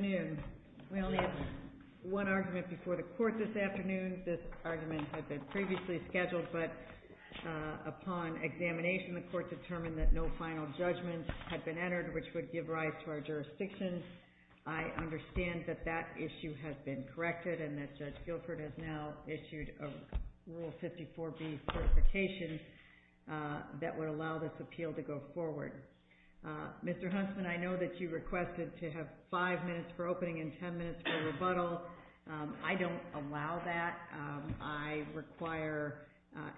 We have one argument before the court this afternoon. This argument had been previously scheduled, but upon examination, the court determined that no final judgment had been entered, which would give rise to our jurisdiction. I understand that that issue has been corrected and that Judge Guilford has now issued a Rule 54B certification that would allow this appeal to go forward. Mr. Huntsman, I know that you requested to have five minutes for opening and ten minutes for rebuttal. I don't allow that. I require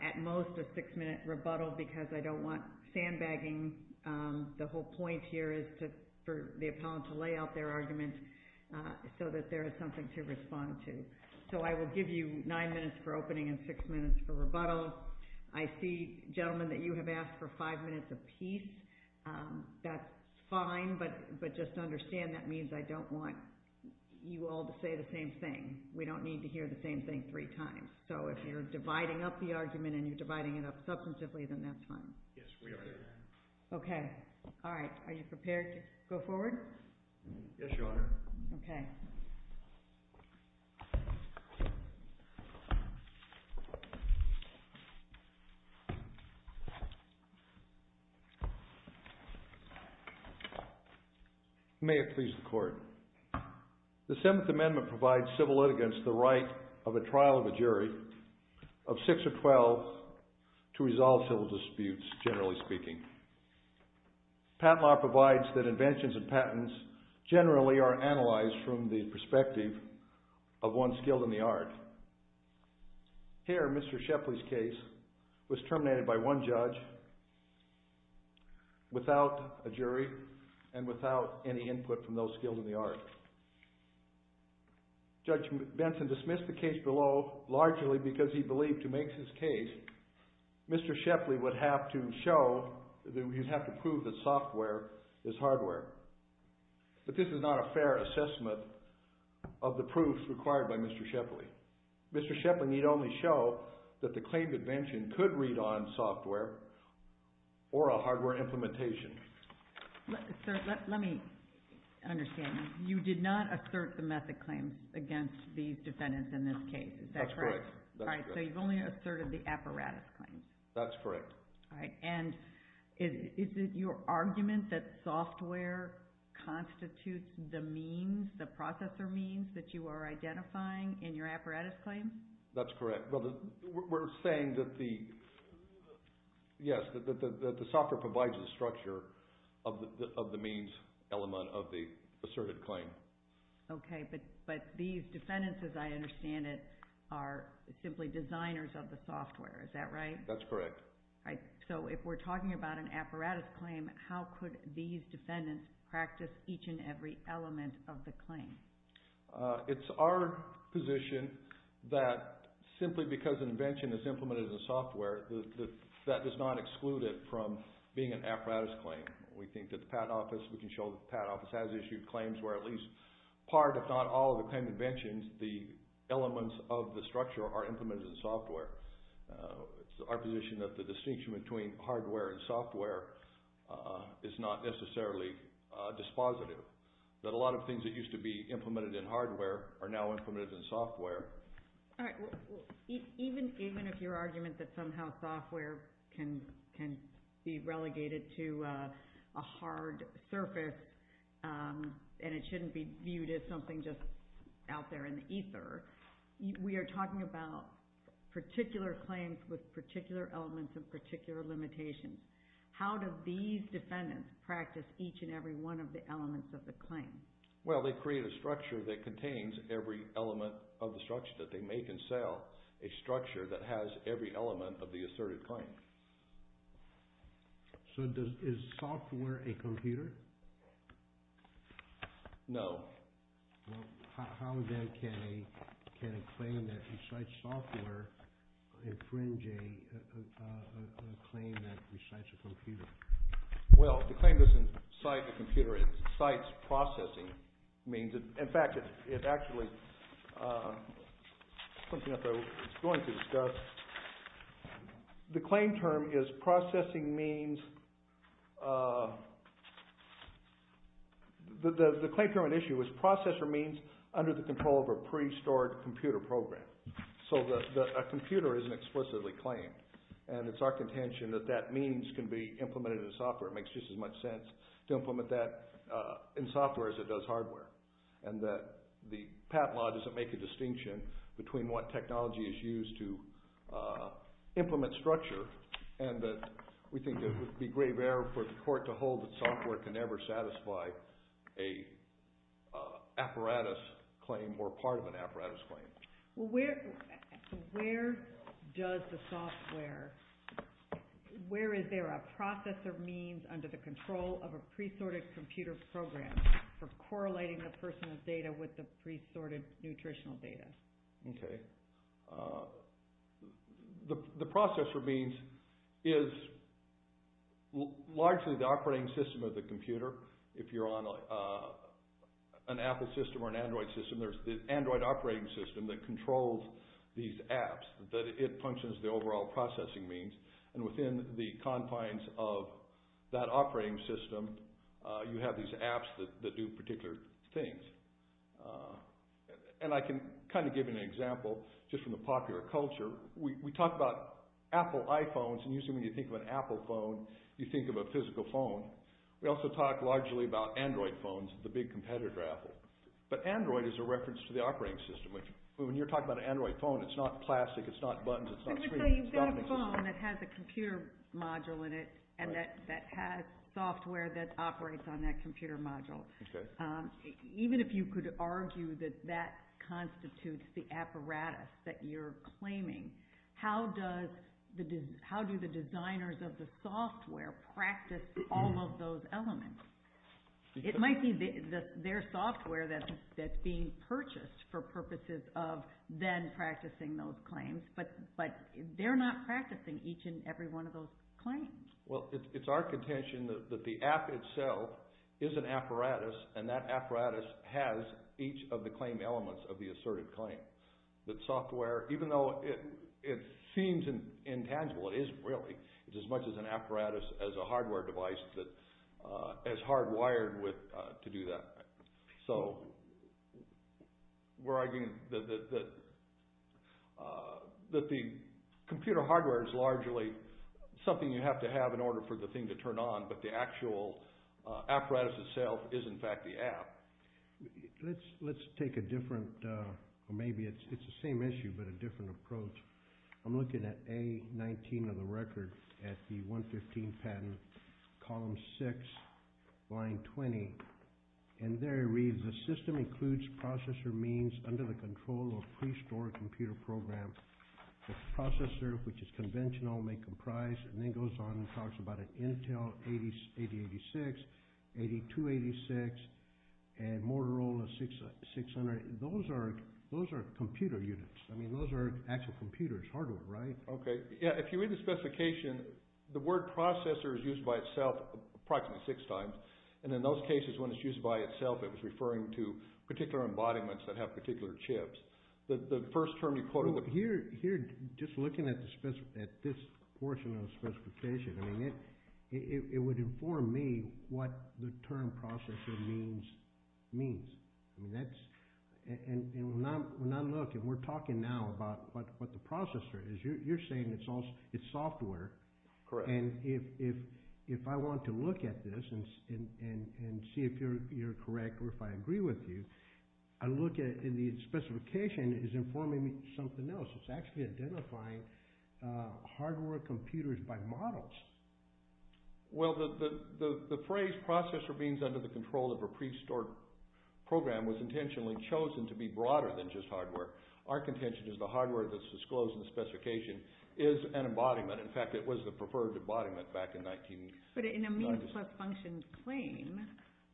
at most a six-minute rebuttal because I don't want sandbagging. The whole point here is for the appellant to lay out their argument so that there is something to respond to. So I will give you nine minutes for opening and six minutes for rebuttal. I see, gentlemen, that you have asked for five minutes apiece. That's fine, but just understand that means I don't want you all to say the same thing. We don't need to hear the same thing three times. So if you're dividing up the argument and you're dividing it up substantively, then that's fine. Yes, we are prepared to go forward? Yes, Your Honor. Okay. May it please the Court. The Seventh Amendment provides civil litigants the right of a trial of a jury of six or twelve to resolve civil disputes, generally speaking. Patent law provides that inventions and patents generally are analyzed from the perspective of one skilled in the art. Here, Mr. Shepley's case was terminated by one judge without a jury and without any evidence. So, largely because he believed he makes his case, Mr. Shepley would have to prove that software is hardware. But this is not a fair assessment of the proof required by Mr. Shepley. Mr. Shepley need only show that the claim to invention could read on software or a hardware implementation. Let me understand. You did not assert the method claims against these defendants in this case. Is that correct? That's correct. All right. So you've only asserted the apparatus claims? That's correct. All right. And is it your argument that software constitutes the means, the processor means that you are identifying in your apparatus claim? That's correct. Well, we're saying that the software provides the structure of the means element of the asserted claim. Okay. But these defendants, as I understand it, are simply designers of the software. Is that right? That's correct. All right. So if we're talking about an apparatus claim, how could these defendants practice each and every element of the claim? It's our position that simply because an invention is implemented in software, that does not exclude it from being an apparatus claim. We think that the Patent Office, we can show that the Patent Office has issued claims where at least part, if not all, of the claim to inventions, the elements of the structure are implemented in software. It's our position that the distinction between hardware and software is not necessarily dispositive. That a lot of things that used to be implemented in hardware are now implemented in software. All right. Even if your argument that somehow software can be relegated to a hard surface and it shouldn't be viewed as something just out there in the ether, we are talking about particular claims with particular elements and particular limitations. How do these defendants practice each and every one of the elements of the claim? Well, they create a structure that contains every element of the structure that they make and sell, a structure that has every element of the asserted claim. So is software a computer? No. How then can a claim that recites software infringe a claim that recites a computer? Well, the claim doesn't cite a computer. It cites processing means. In fact, it actually, it's going to discuss, the claim term is processing means, the claim term at issue was processor means under the control of a pre-stored computer program. So a computer isn't explicitly claimed and it's our contention that that means can be implemented in software. It makes just as much sense to implement that in software as it does hardware and that the patent law doesn't make a distinction between what technology is used to implement structure and that we think it would be grave error for the court to hold that software can never satisfy an apparatus claim or part of an apparatus claim. Well, where does the software, where is there a processor means under the control of a pre-sorted computer program for correlating the personal data with the pre-sorted nutritional data? Okay. The processor means is largely the operating system of the computer. If you're on an Apple system or an Android system, there's the Android operating system that controls these apps, that it functions as the overall processing means and within the confines of that operating system, you have these apps that do particular things. And I can kind of give you an example just from the popular culture. We talk about Apple iPhones and usually when you think of an Apple phone, you think of a physical phone. We also talk largely about Android phones, the big competitor Apple. But Android is a reference to the operating system. When you're talking about an Android phone, it's not plastic, it's not buttons, it's not screens. So you've got a phone that has a computer module in it and that has software that operates on that computer module. Even if you could argue that that constitutes the apparatus that you're claiming, how do the designers of the software practice all of those elements? It might be their software that's being purchased for purposes of then practicing those claims, but they're not practicing each and every one of those claims. Well, it's our contention that the app itself is an apparatus and that apparatus has each of the claim elements of the assertive claim. That software, even though it seems intangible, it isn't really. It's as much as an apparatus as a hardware device that is hardwired to do that. So we're arguing that the computer hardware is largely something you have to have in order for the thing to turn on, but the actual apparatus itself is in fact the app. Let's take a different, or maybe it's the same issue, but a different approach. I'm And there it reads, the system includes processor means under the control of pre-stored computer program. The processor, which is conventional, may comprise, and then goes on and talks about an Intel 8086, 8286, and Motorola 600. Those are computer units. I mean, those are actual computers, hardware, right? Okay. Yeah, if you read the specification, the word processor is used by itself approximately six times. And in those cases, when it's used by itself, it was referring to particular embodiments that have particular chips. The first term you quoted- Here, just looking at this portion of the specification, I mean, it would inform me what the term processor means. And we're not looking, we're talking now about what the processor is. You're saying it's software. Correct. And if I want to look at this and see if you're correct or if I agree with you, I look at it and the specification is informing me of something else. It's actually identifying hardware computers by models. Well, the phrase processor means under the control of a pre-stored program was intentionally chosen to be broader than just hardware. Our contention is the hardware that's disclosed in the specification is an embodiment. In fact, it was the preferred embodiment back in 1996. But in a means plus function claim,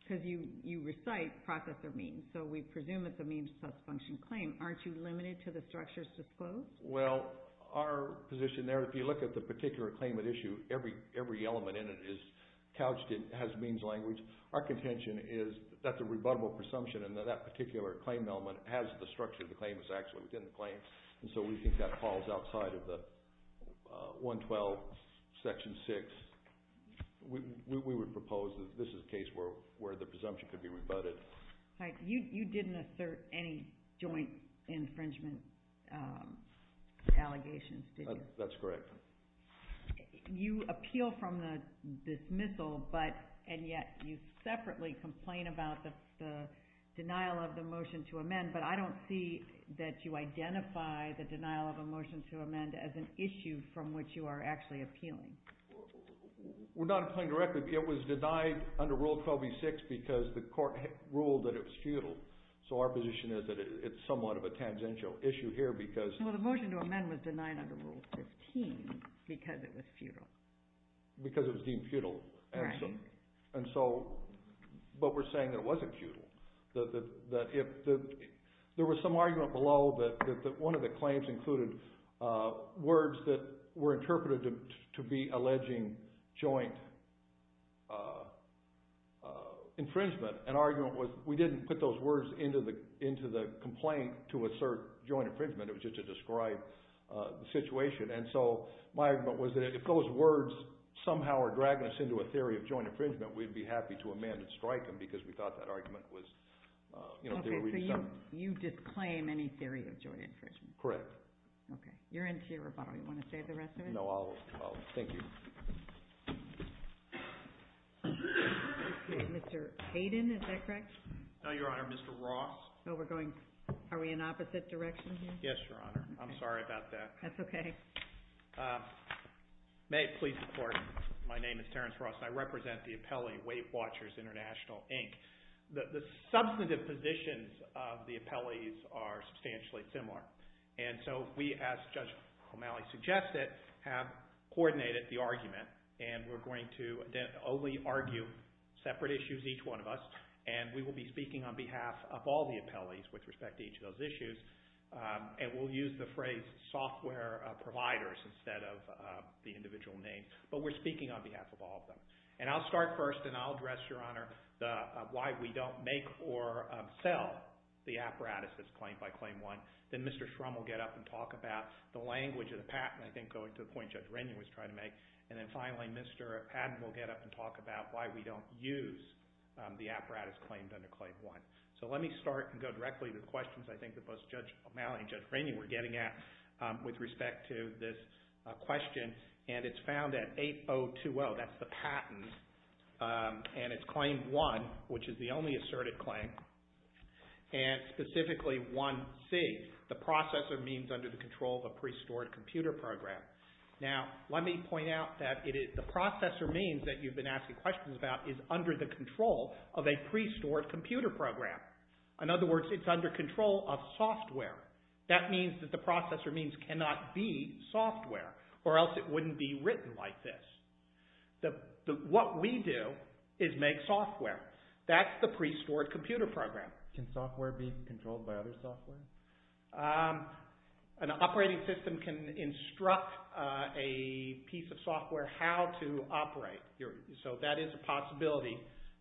because you recite processor means, so we presume it's a means plus function claim, aren't you limited to the structures disclosed? Well, our position there, if you look at the particular claimant issue, every element in it is couched in, has means language. Our contention is that the rebuttable presumption and that that particular claim element has the structure of the claim that's actually within the claim. And so we think that falls outside of the 112 section 6. We would propose that this is a case where the presumption could be rebutted. You didn't assert any joint infringement allegations, did you? That's correct. You appeal from the dismissal, and yet you separately complain about the denial of the motion to amend as an issue from which you are actually appealing. We're not applying directly. It was denied under Rule 12e6 because the court ruled that it was futile. So our position is that it's somewhat of a tangential issue here because Well, the motion to amend was denied under Rule 13 because it was futile. Because it was deemed futile. Right. But we're saying that it wasn't futile. There was some argument below that one of the claims included words that were interpreted to be alleging joint infringement. An argument was we didn't put those words into the complaint to assert joint infringement. It was just to describe the situation. And so my argument was that if those words somehow are dragging us into a theory of joint infringement, we'd be happy to amend and strike them because we thought that argument was Okay, so you disclaim any theory of joint infringement. Correct. Okay. You're into your rebuttal. You want to say the rest of it? No, I'll. Thank you. Mr. Hayden, is that correct? No, Your Honor. Mr. Ross? Oh, we're going. Are we in opposite directions here? Yes, Your Honor. I'm sorry about that. That's okay. May it please the Court, my name is Terrence Ross and I represent the appellee, Weight Watchers International, Inc. The substantive positions of the appellees are substantially similar. And so we, as Judge O'Malley suggested, have coordinated the argument and we're going to only argue separate issues, each one of us, and we will be speaking on behalf of all the appellees with respect to each of those issues. And we'll use the phrase software providers instead of the individual name. But we're speaking on behalf of all of them. And I'll start first and I'll address, Your Honor, why we don't make or sell the apparatus that's claimed by Claim 1. Then Mr. Shrum will get up and talk about the language of the patent, I think going to the point Judge Rennie was trying to make. And then finally, Mr. Padden will get up and talk about why we don't use the apparatus claimed under Claim 1. So let me start and go directly to the questions I think that both Judge O'Malley and Judge Rennie were getting at with respect to this question. And it's found that 8020, that's the patent, and it's Claim 1, which is the only asserted claim, and specifically 1C, the processor means under the control of a pre-stored computer program. Now, let me point out that the processor means that you've been asking questions about is under the control of a pre-stored computer program. In other words, it's under control of software. That means that the processor means cannot be software or else it wouldn't be written like this. What we do is make software. That's the pre-stored computer program. Can software be controlled by other software? An operating system can instruct a piece of software how to operate. So that is a possibility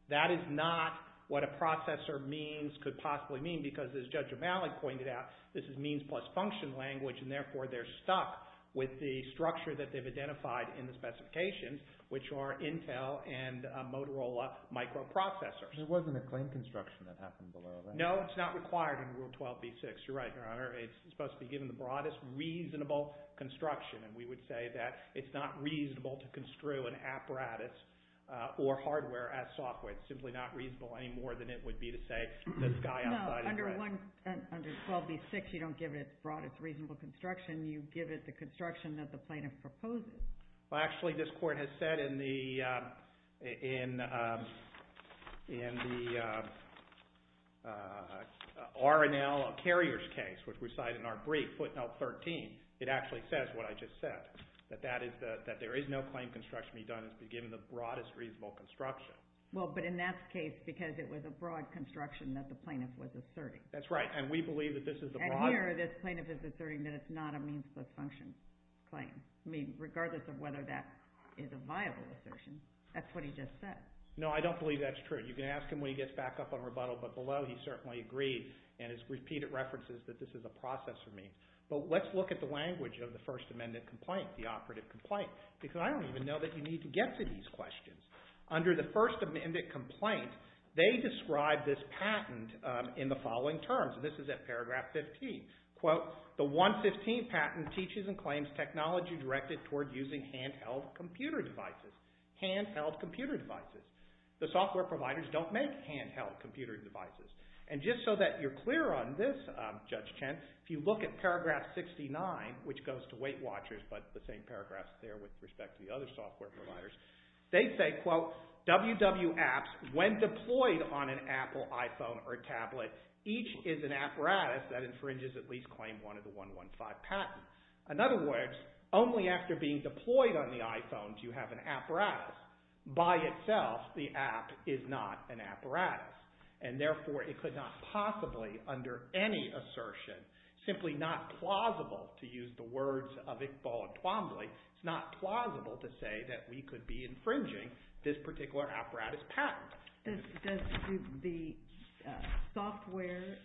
that is not what a processor means could possibly mean because, as Judge O'Malley pointed out, this is means plus function language, and therefore they're stuck with the structure that they've identified in the specifications, which are Intel and Motorola microprocessors. There wasn't a claim construction that happened below that. No, it's not required in Rule 12b-6. You're right, Your Honor. It's supposed to be given the broadest reasonable construction, and we would say that it's not reasonable to construe an apparatus or hardware as software. It's simply not reasonable any more than it would be to say the sky outside is the limit. No, under 12b-6, you don't give it broadest reasonable construction. You give it the construction that the plaintiff proposes. Well, actually, this Court has said in the R&L carriers case, which we cite in our brief, footnote 13, it actually says what I just said, that there is no claim construction to be done if it's given the broadest reasonable construction. Well, but in that case, because it was a broad construction that the plaintiff was asserting. That's right, and we believe that this is the broadest... And here, this plaintiff is asserting that it's not a means plus function claim. I mean, regardless of whether that is a viable assertion, that's what he just said. No, I don't believe that's true. You can ask him when he gets back up on rebuttal, but below, he certainly agreed and has repeated references that this is a process for me. But let's look at the language of the First Amendment complaint, the operative complaint, because I don't even know that you need to get to these questions. Under the First Amendment complaint, they describe this patent in the following terms, and this is at paragraph 15. Quote, the 115 patent teaches and claims technology directed toward using handheld computer devices. Handheld computer devices. The software providers don't make handheld computer devices. And just so that you're clear on this, Judge Chen, if you look at paragraph 69, which goes to Weight Watchers, but the same paragraphs there with respect to the other software providers, they say, quote, WW apps, when deployed on an Apple iPhone or tablet, each is an apparatus that infringes at least claim one of the 115 patents. In other words, only after being deployed on the iPhones, you have an apparatus. By itself, the app is not an apparatus. And therefore, it could not possibly, under any assertion, simply not plausible to use the words of Iqbal and Twombly, it's not plausible to say that we could be infringing this particular apparatus patent. Does the software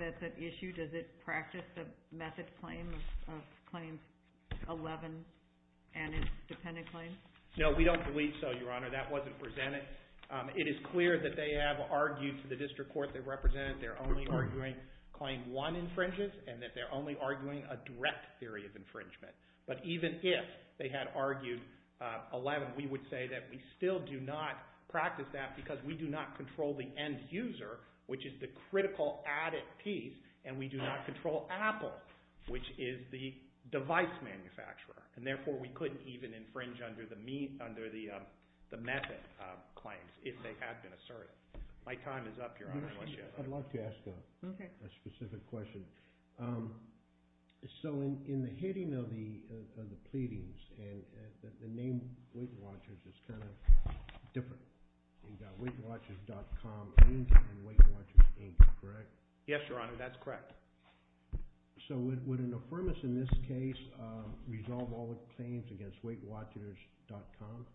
that's at issue, does it practice the method claim of claim 11 and its dependent claim? No, we don't believe so, Your Honor. That wasn't presented. It is clear that they have argued to the district court that represented they're only arguing claim one infringes and that they're only arguing a direct theory of infringement. But even if they had argued 11, we would say that we still do not practice that because we do not control the end user, which is the critical added piece, and we do not control Apple, which is the device manufacturer. And therefore, we couldn't even infringe under the method claims if they had been asserted. My time is up, Your Honor. I'd like to ask a specific question. So in the heading of the pleadings, the name Weight Watchers is kind of different. You've got WeightWatchers.com and Weight Watchers, Inc., correct? Yes, Your Honor, that's correct. So would an affirmance in this case resolve all the claims against WeightWatchers.com?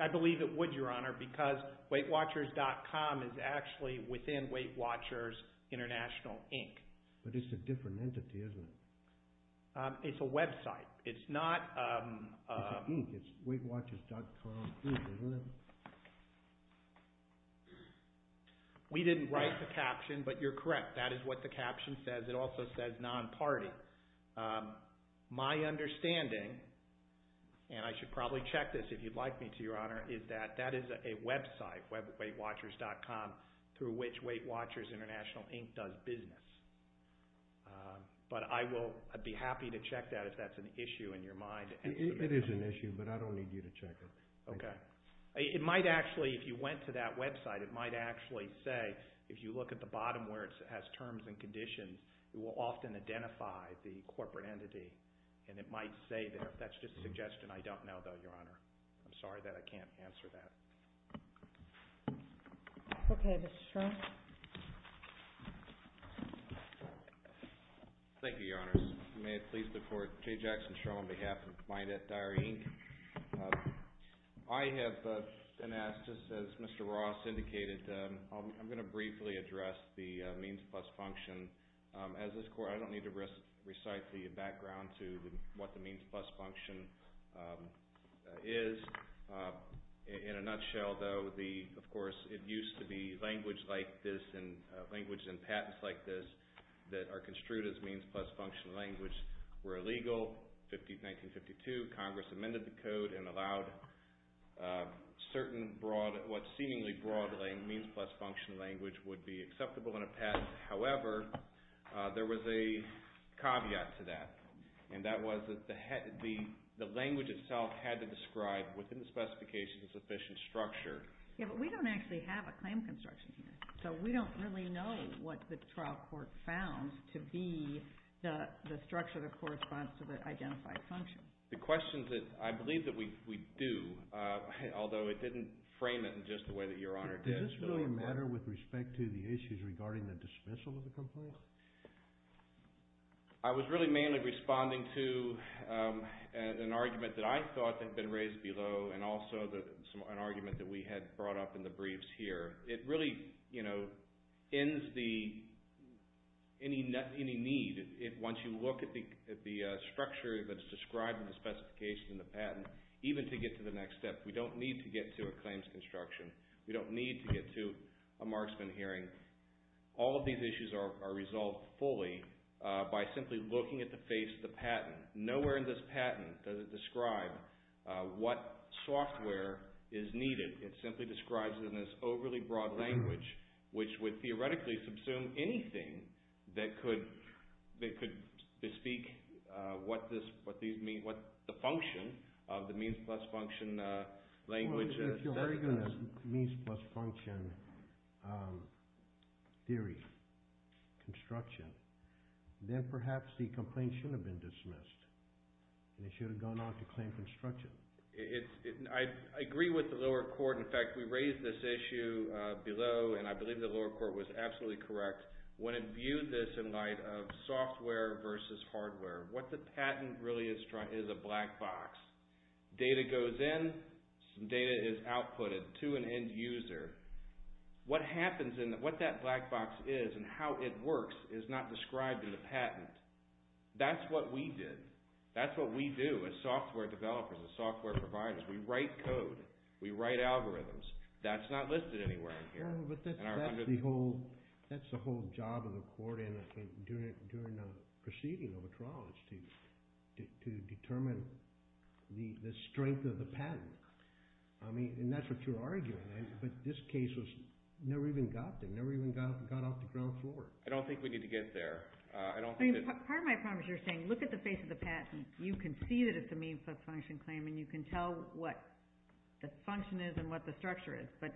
I believe it would, Your Honor, because WeightWatchers.com is actually within Weight Watchers International, Inc. But it's a different entity, isn't it? It's a website. It's not— It's an Inc. It's WeightWatchers.com, Inc., isn't it? We didn't write the caption, but you're correct. That is what the caption says. It also says non-party. My understanding, and I should probably check this if you'd like me to, Your Honor, is that that is a website, WeightWatchers.com, through which Weight Watchers International, Inc. does business. But I'd be happy to check that if that's an issue in your mind. It is an issue, but I don't need you to check it. Okay. It might actually, if you went to that website, it might actually say, if you look at the bottom where it has terms and conditions, it will often identify the corporate entity, and it might say there. If that's just a suggestion, I don't know, though, Your Honor. I'm sorry that I can't answer that. Okay. Mr. Strunk? Thank you, Your Honors. May it please the Court, Jay Jackson Strunk, on behalf of MyNetDiary, Inc. I have been asked, just as Mr. Ross indicated, I'm going to briefly address the means plus function. As this Court, I don't need to recite the background to what the means plus function is. In a nutshell, though, of course, it used to be language like this, language and patents like this, that are construed as means plus function language were illegal. 1952, Congress amended the code and allowed certain broad, what seemingly broadly means plus function language would be acceptable in a patent. However, there was a caveat to that, and that was that the language itself had to describe, within the specifications, a sufficient structure. Yeah, but we don't actually have a claim construction here, so we don't really know what the trial court found to be the structure that corresponds to the identified function. The question is that I believe that we do, although it didn't frame it in just the way that Your Honor did. Does this really matter with respect to the issues regarding the dismissal of the component? I was really mainly responding to an argument that I thought had been raised below, and also an argument that we had brought up in the briefs here. It really ends any need, once you look at the structure that is described in the specification of the patent, even to get to the next step. We don't need to get to a claims construction. We don't need to get to a marksman hearing. All of these issues are resolved fully by simply looking at the face of the patent. Nowhere in this patent does it describe what software is needed. It simply describes it in this overly broad language, which would theoretically subsume anything that could bespeak what the function of the means plus function language is. If you're arguing a means plus function theory, construction, then perhaps the complaint should have been dismissed, and it should have gone on to claim construction. I agree with the lower court. In fact, we raised this issue below, and I believe the lower court was absolutely correct. When it viewed this in light of software versus hardware, what the patent really is a black box. Data goes in, data is outputted to an end user. What that black box is and how it works is not described in the patent. That's what we did. That's what we do as software developers and software providers. We write code. We write algorithms. That's not listed anywhere in here. But that's the whole job of the court in doing a proceeding of a trial is to determine the strength of the patent, and that's what you're arguing. But this case never even got there, never even got off the ground floor. I don't think we need to get there. Part of my problem is you're saying look at the face of the patent. You can see that it's a means of function claim, and you can tell what the function is and what the structure is, but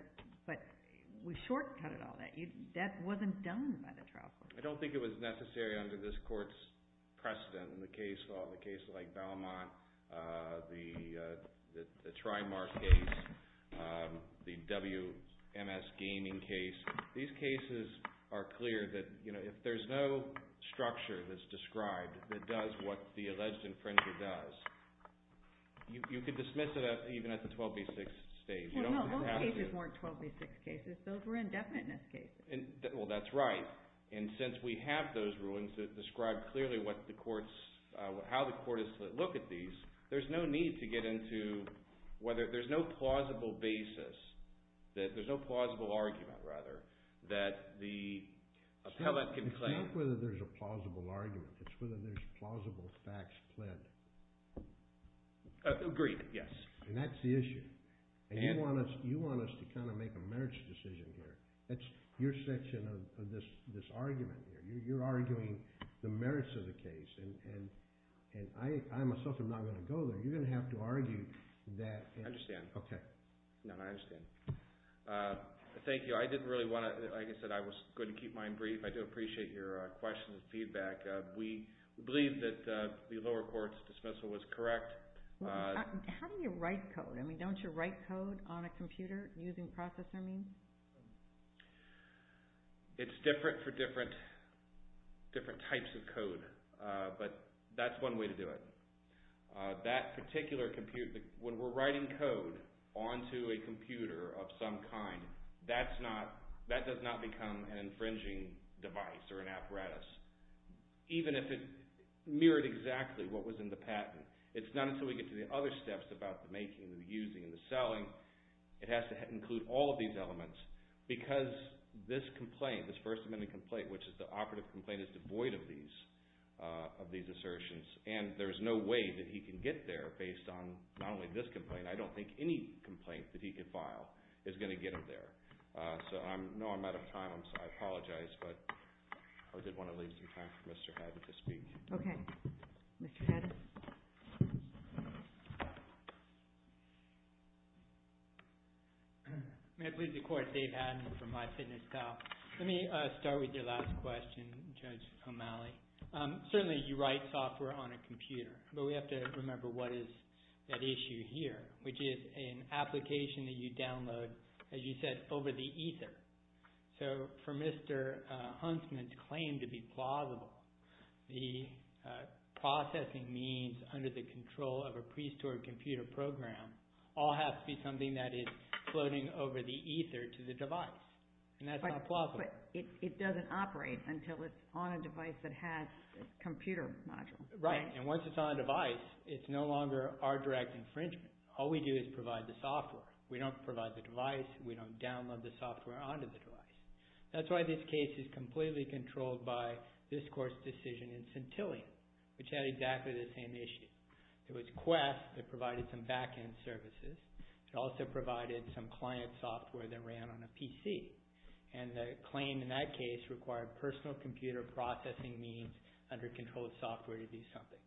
we shortcutted all that. That wasn't done by the trial court. I don't think it was necessary under this court's precedent in the case law, the case like Belmont, the Trimark case, the WMS gaming case. These cases are clear that if there's no structure that's described that does what the alleged infringer does, you could dismiss it even at the 12B6 stage. Well, no, those cases weren't 12B6 cases. Those were indefiniteness cases. Well, that's right. And since we have those rulings that describe clearly how the court is to look at these, there's no need to get into whether there's no plausible basis, there's no plausible argument, rather, that the appellate can claim. It's not whether there's a plausible argument. It's whether there's plausible facts pled. Agreed, yes. And that's the issue. And you want us to kind of make a merits decision here. That's your section of this argument here. You're arguing the merits of the case, and I myself am not going to go there. You're going to have to argue that. I understand. Okay. No, I understand. Thank you. I didn't really want to, like I said, I was going to keep mine brief. I do appreciate your questions and feedback. We believe that the lower court's dismissal was correct. How do you write code? I mean, don't you write code on a computer using processor means? It's different for different types of code, but that's one way to do it. That particular computer, when we're writing code onto a computer of some kind, that does not become an infringing device or an apparatus, even if it mirrored exactly what was in the patent. It's not until we get to the other steps about the making, the using, the selling. It has to include all of these elements because this complaint, this First Amendment complaint, which is the operative complaint, is devoid of these assertions, and there's no way that he can get there based on not only this complaint. I don't think any complaint that he could file is going to get him there. So I know I'm out of time, so I apologize, but I did want to leave some time for Mr. Haddon to speak. Okay. Mr. Haddon? May I please record Dave Haddon from MyFitnessPal? Let me start with your last question, Judge O'Malley. Certainly you write software on a computer, but we have to remember what is at issue here, which is an application that you download, as you said, over the ether. So for Mr. Huntsman's claim to be plausible, the processing means under the control of a pre-stored computer program all have to be something that is floating over the ether to the device, and that's not plausible. But it doesn't operate until it's on a device that has a computer module. Right, and once it's on a device, it's no longer our direct infringement. All we do is provide the software. We don't provide the device. We don't download the software onto the device. That's why this case is completely controlled by this court's decision in Centillion, which had exactly the same issue. It was Quest that provided some back-end services. It also provided some client software that ran on a PC, and the claim in that case required personal computer processing means under controlled software to be something,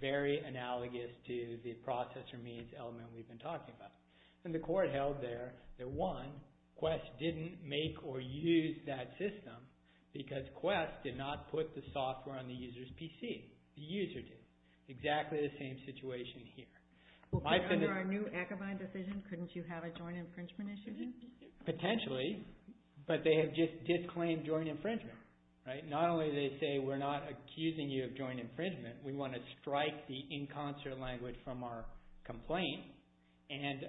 very analogous to the processor means element we've been talking about. And the court held there that, one, Quest didn't make or use that system because Quest did not put the software on the user's PC. The user did. Exactly the same situation here. Under our new Akabane decision, couldn't you have a joint infringement issue? Potentially, but they have just disclaimed joint infringement. Not only did they say we're not accusing you of joint infringement, we want to strike the in concert language from our complaint, and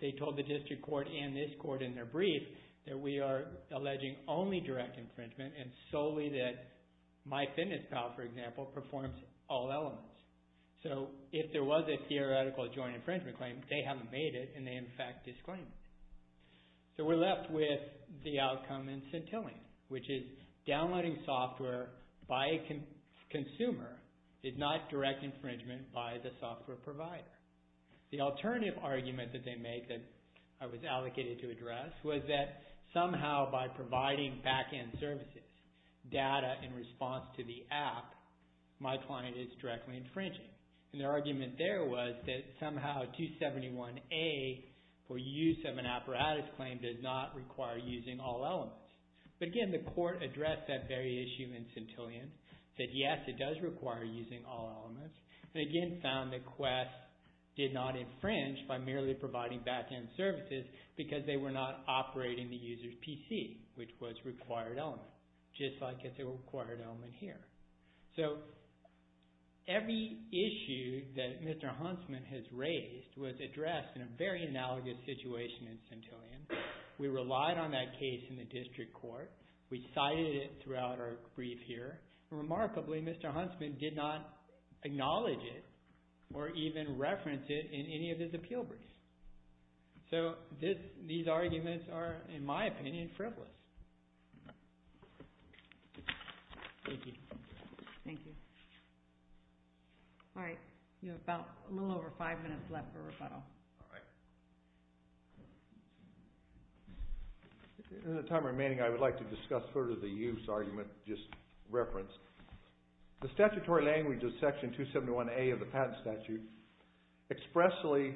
they told the district court and this court in their brief that we are alleging only direct infringement and solely that MyFitnessPal, for example, performs all elements. So if there was a theoretical joint infringement claim, they haven't made it, and they, in fact, disclaimed it. So we're left with the outcome in Centillion, which is downloading software by a consumer is not direct infringement by the software provider. The alternative argument that they make that I was allocated to address was that somehow by providing back-end services, data in response to the app, my client is directly infringing. Their argument there was that somehow 271A, for use of an apparatus claim, does not require using all elements. But again, the court addressed that very issue in Centillion, said yes, it does require using all elements, and again found that Quest did not infringe by merely providing back-end services because they were not operating the user's PC, which was a required element, just like it's a required element here. So every issue that Mr. Huntsman has raised was addressed in a very analogous situation in Centillion. We relied on that case in the district court. We cited it throughout our brief here. Remarkably, Mr. Huntsman did not acknowledge it or even reference it in any of his appeal briefs. So these arguments are, in my opinion, frivolous. Thank you. Thank you. All right, you have a little over five minutes left for rebuttal. All right. In the time remaining, I would like to discuss further the use argument just referenced. The statutory language of Section 271A of the Patent Statute expressly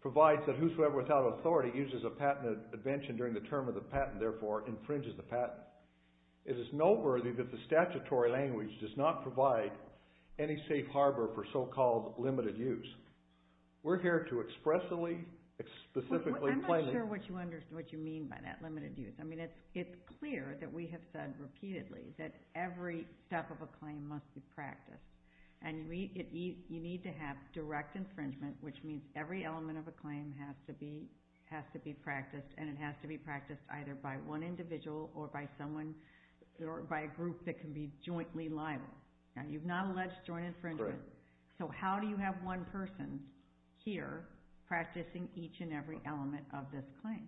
provides that whosoever without authority uses a patent invention during the term of the patent, therefore infringes the patent. It is noteworthy that the statutory language does not provide any safe harbor for so-called limited use. We're here to expressly, specifically claim it. I'm not sure what you mean by that, limited use. I mean, it's clear that we have said repeatedly that every step of a claim must be practiced, and you need to have direct infringement, which means every element of a claim has to be practiced, and it has to be practiced either by one individual or by someone or by a group that can be jointly liable. You've not alleged joint infringement. So how do you have one person here practicing each and every element of this claim?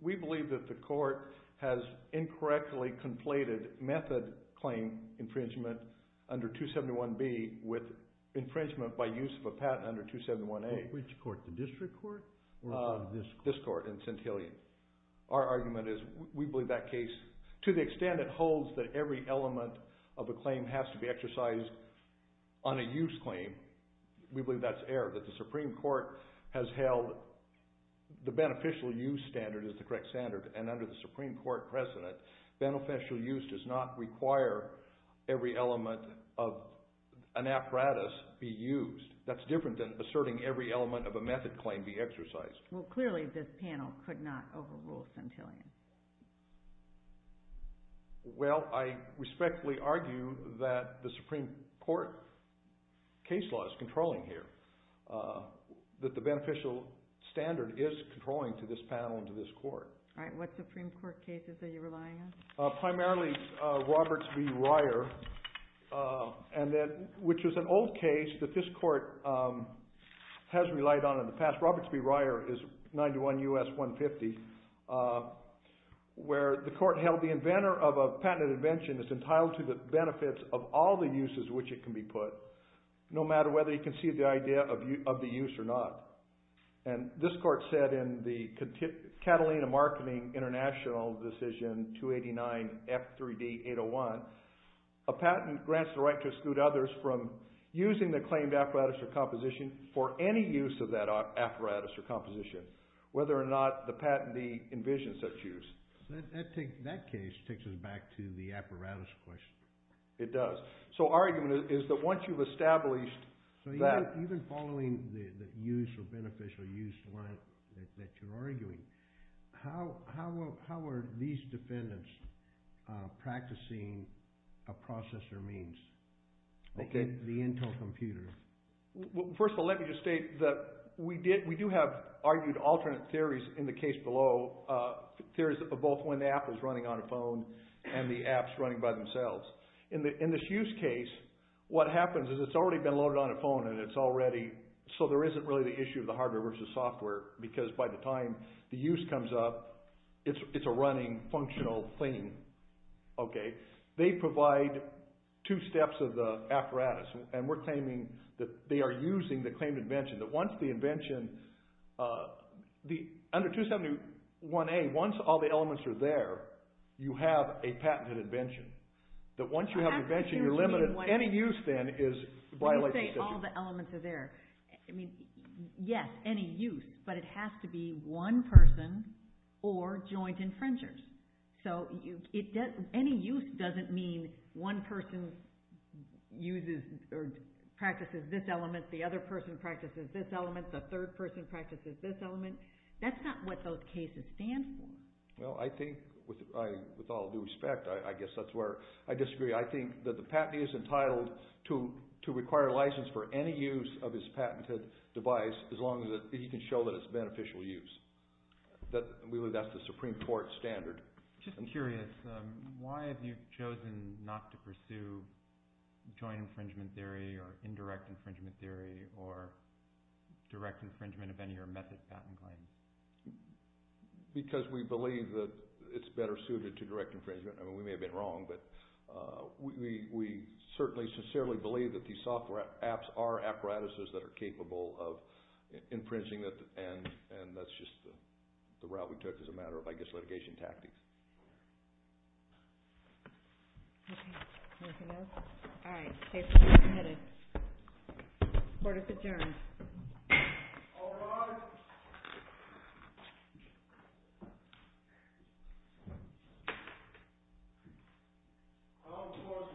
We believe that the Court has incorrectly completed method claim infringement under 271B with infringement by use of a patent under 271A. Which court, the district court or this court? This court in St. Helens. Our argument is we believe that case, to the extent it holds that every element of a claim has to be exercised on a use claim, we believe that's error, that the Supreme Court has held the beneficial use standard as the correct standard, and under the Supreme Court precedent, beneficial use does not require every element of an apparatus be used. That's different than asserting every element of a method claim be exercised. Well, clearly this panel could not overrule St. Helens. Well, I respectfully argue that the Supreme Court case law is controlling here, that the beneficial standard is controlling to this panel and to this court. All right, what Supreme Court cases are you relying on? Primarily Roberts v. Ryer, which is an old case that this court has relied on in the past. Roberts v. Ryer is 91 U.S. 150, where the court held the inventor of a patented invention is entitled to the benefits of all the uses which it can be put, no matter whether you concede the idea of the use or not. And this court said in the Catalina Marketing International Decision 289 F3D 801, a patent grants the right to exclude others from using the claimed apparatus or composition for any use of that apparatus or composition, whether or not the patentee envisions such use. That case takes us back to the apparatus question. It does. So our argument is that once you've established that… that you're arguing, how are these defendants practicing a processor means, the Intel computer? First of all, let me just state that we do have argued alternate theories in the case below, theories of both when the app is running on a phone and the app's running by themselves. In this use case, what happens is it's already been loaded on a phone, and it's already – so there isn't really the issue of the hardware versus software, because by the time the use comes up, it's a running, functional thing. They provide two steps of the apparatus, and we're claiming that they are using the claimed invention, that once the invention – under 271A, once all the elements are there, you have a patented invention. That once you have an invention, you're limited – any use then is – When you say all the elements are there, I mean, yes, any use, but it has to be one person or joint infringers. So any use doesn't mean one person uses or practices this element, the other person practices this element, the third person practices this element. That's not what those cases stand for. Well, I think, with all due respect, I guess that's where I disagree. I think that the patentee is entitled to require a license for any use of his patented device as long as he can show that it's beneficial use. Really, that's the Supreme Court standard. Just curious, why have you chosen not to pursue joint infringement theory or indirect infringement theory or direct infringement of any of your method patent claims? Because we believe that it's better suited to direct infringement. I mean, we may have been wrong, but we certainly sincerely believe that these software apps are apparatuses that are capable of infringing, and that's just the route we took as a matter of, I guess, litigation tactics. Okay. Anything else? All right. Case is submitted. Court is adjourned. All rise. I, of course, object to the marquee of the chair.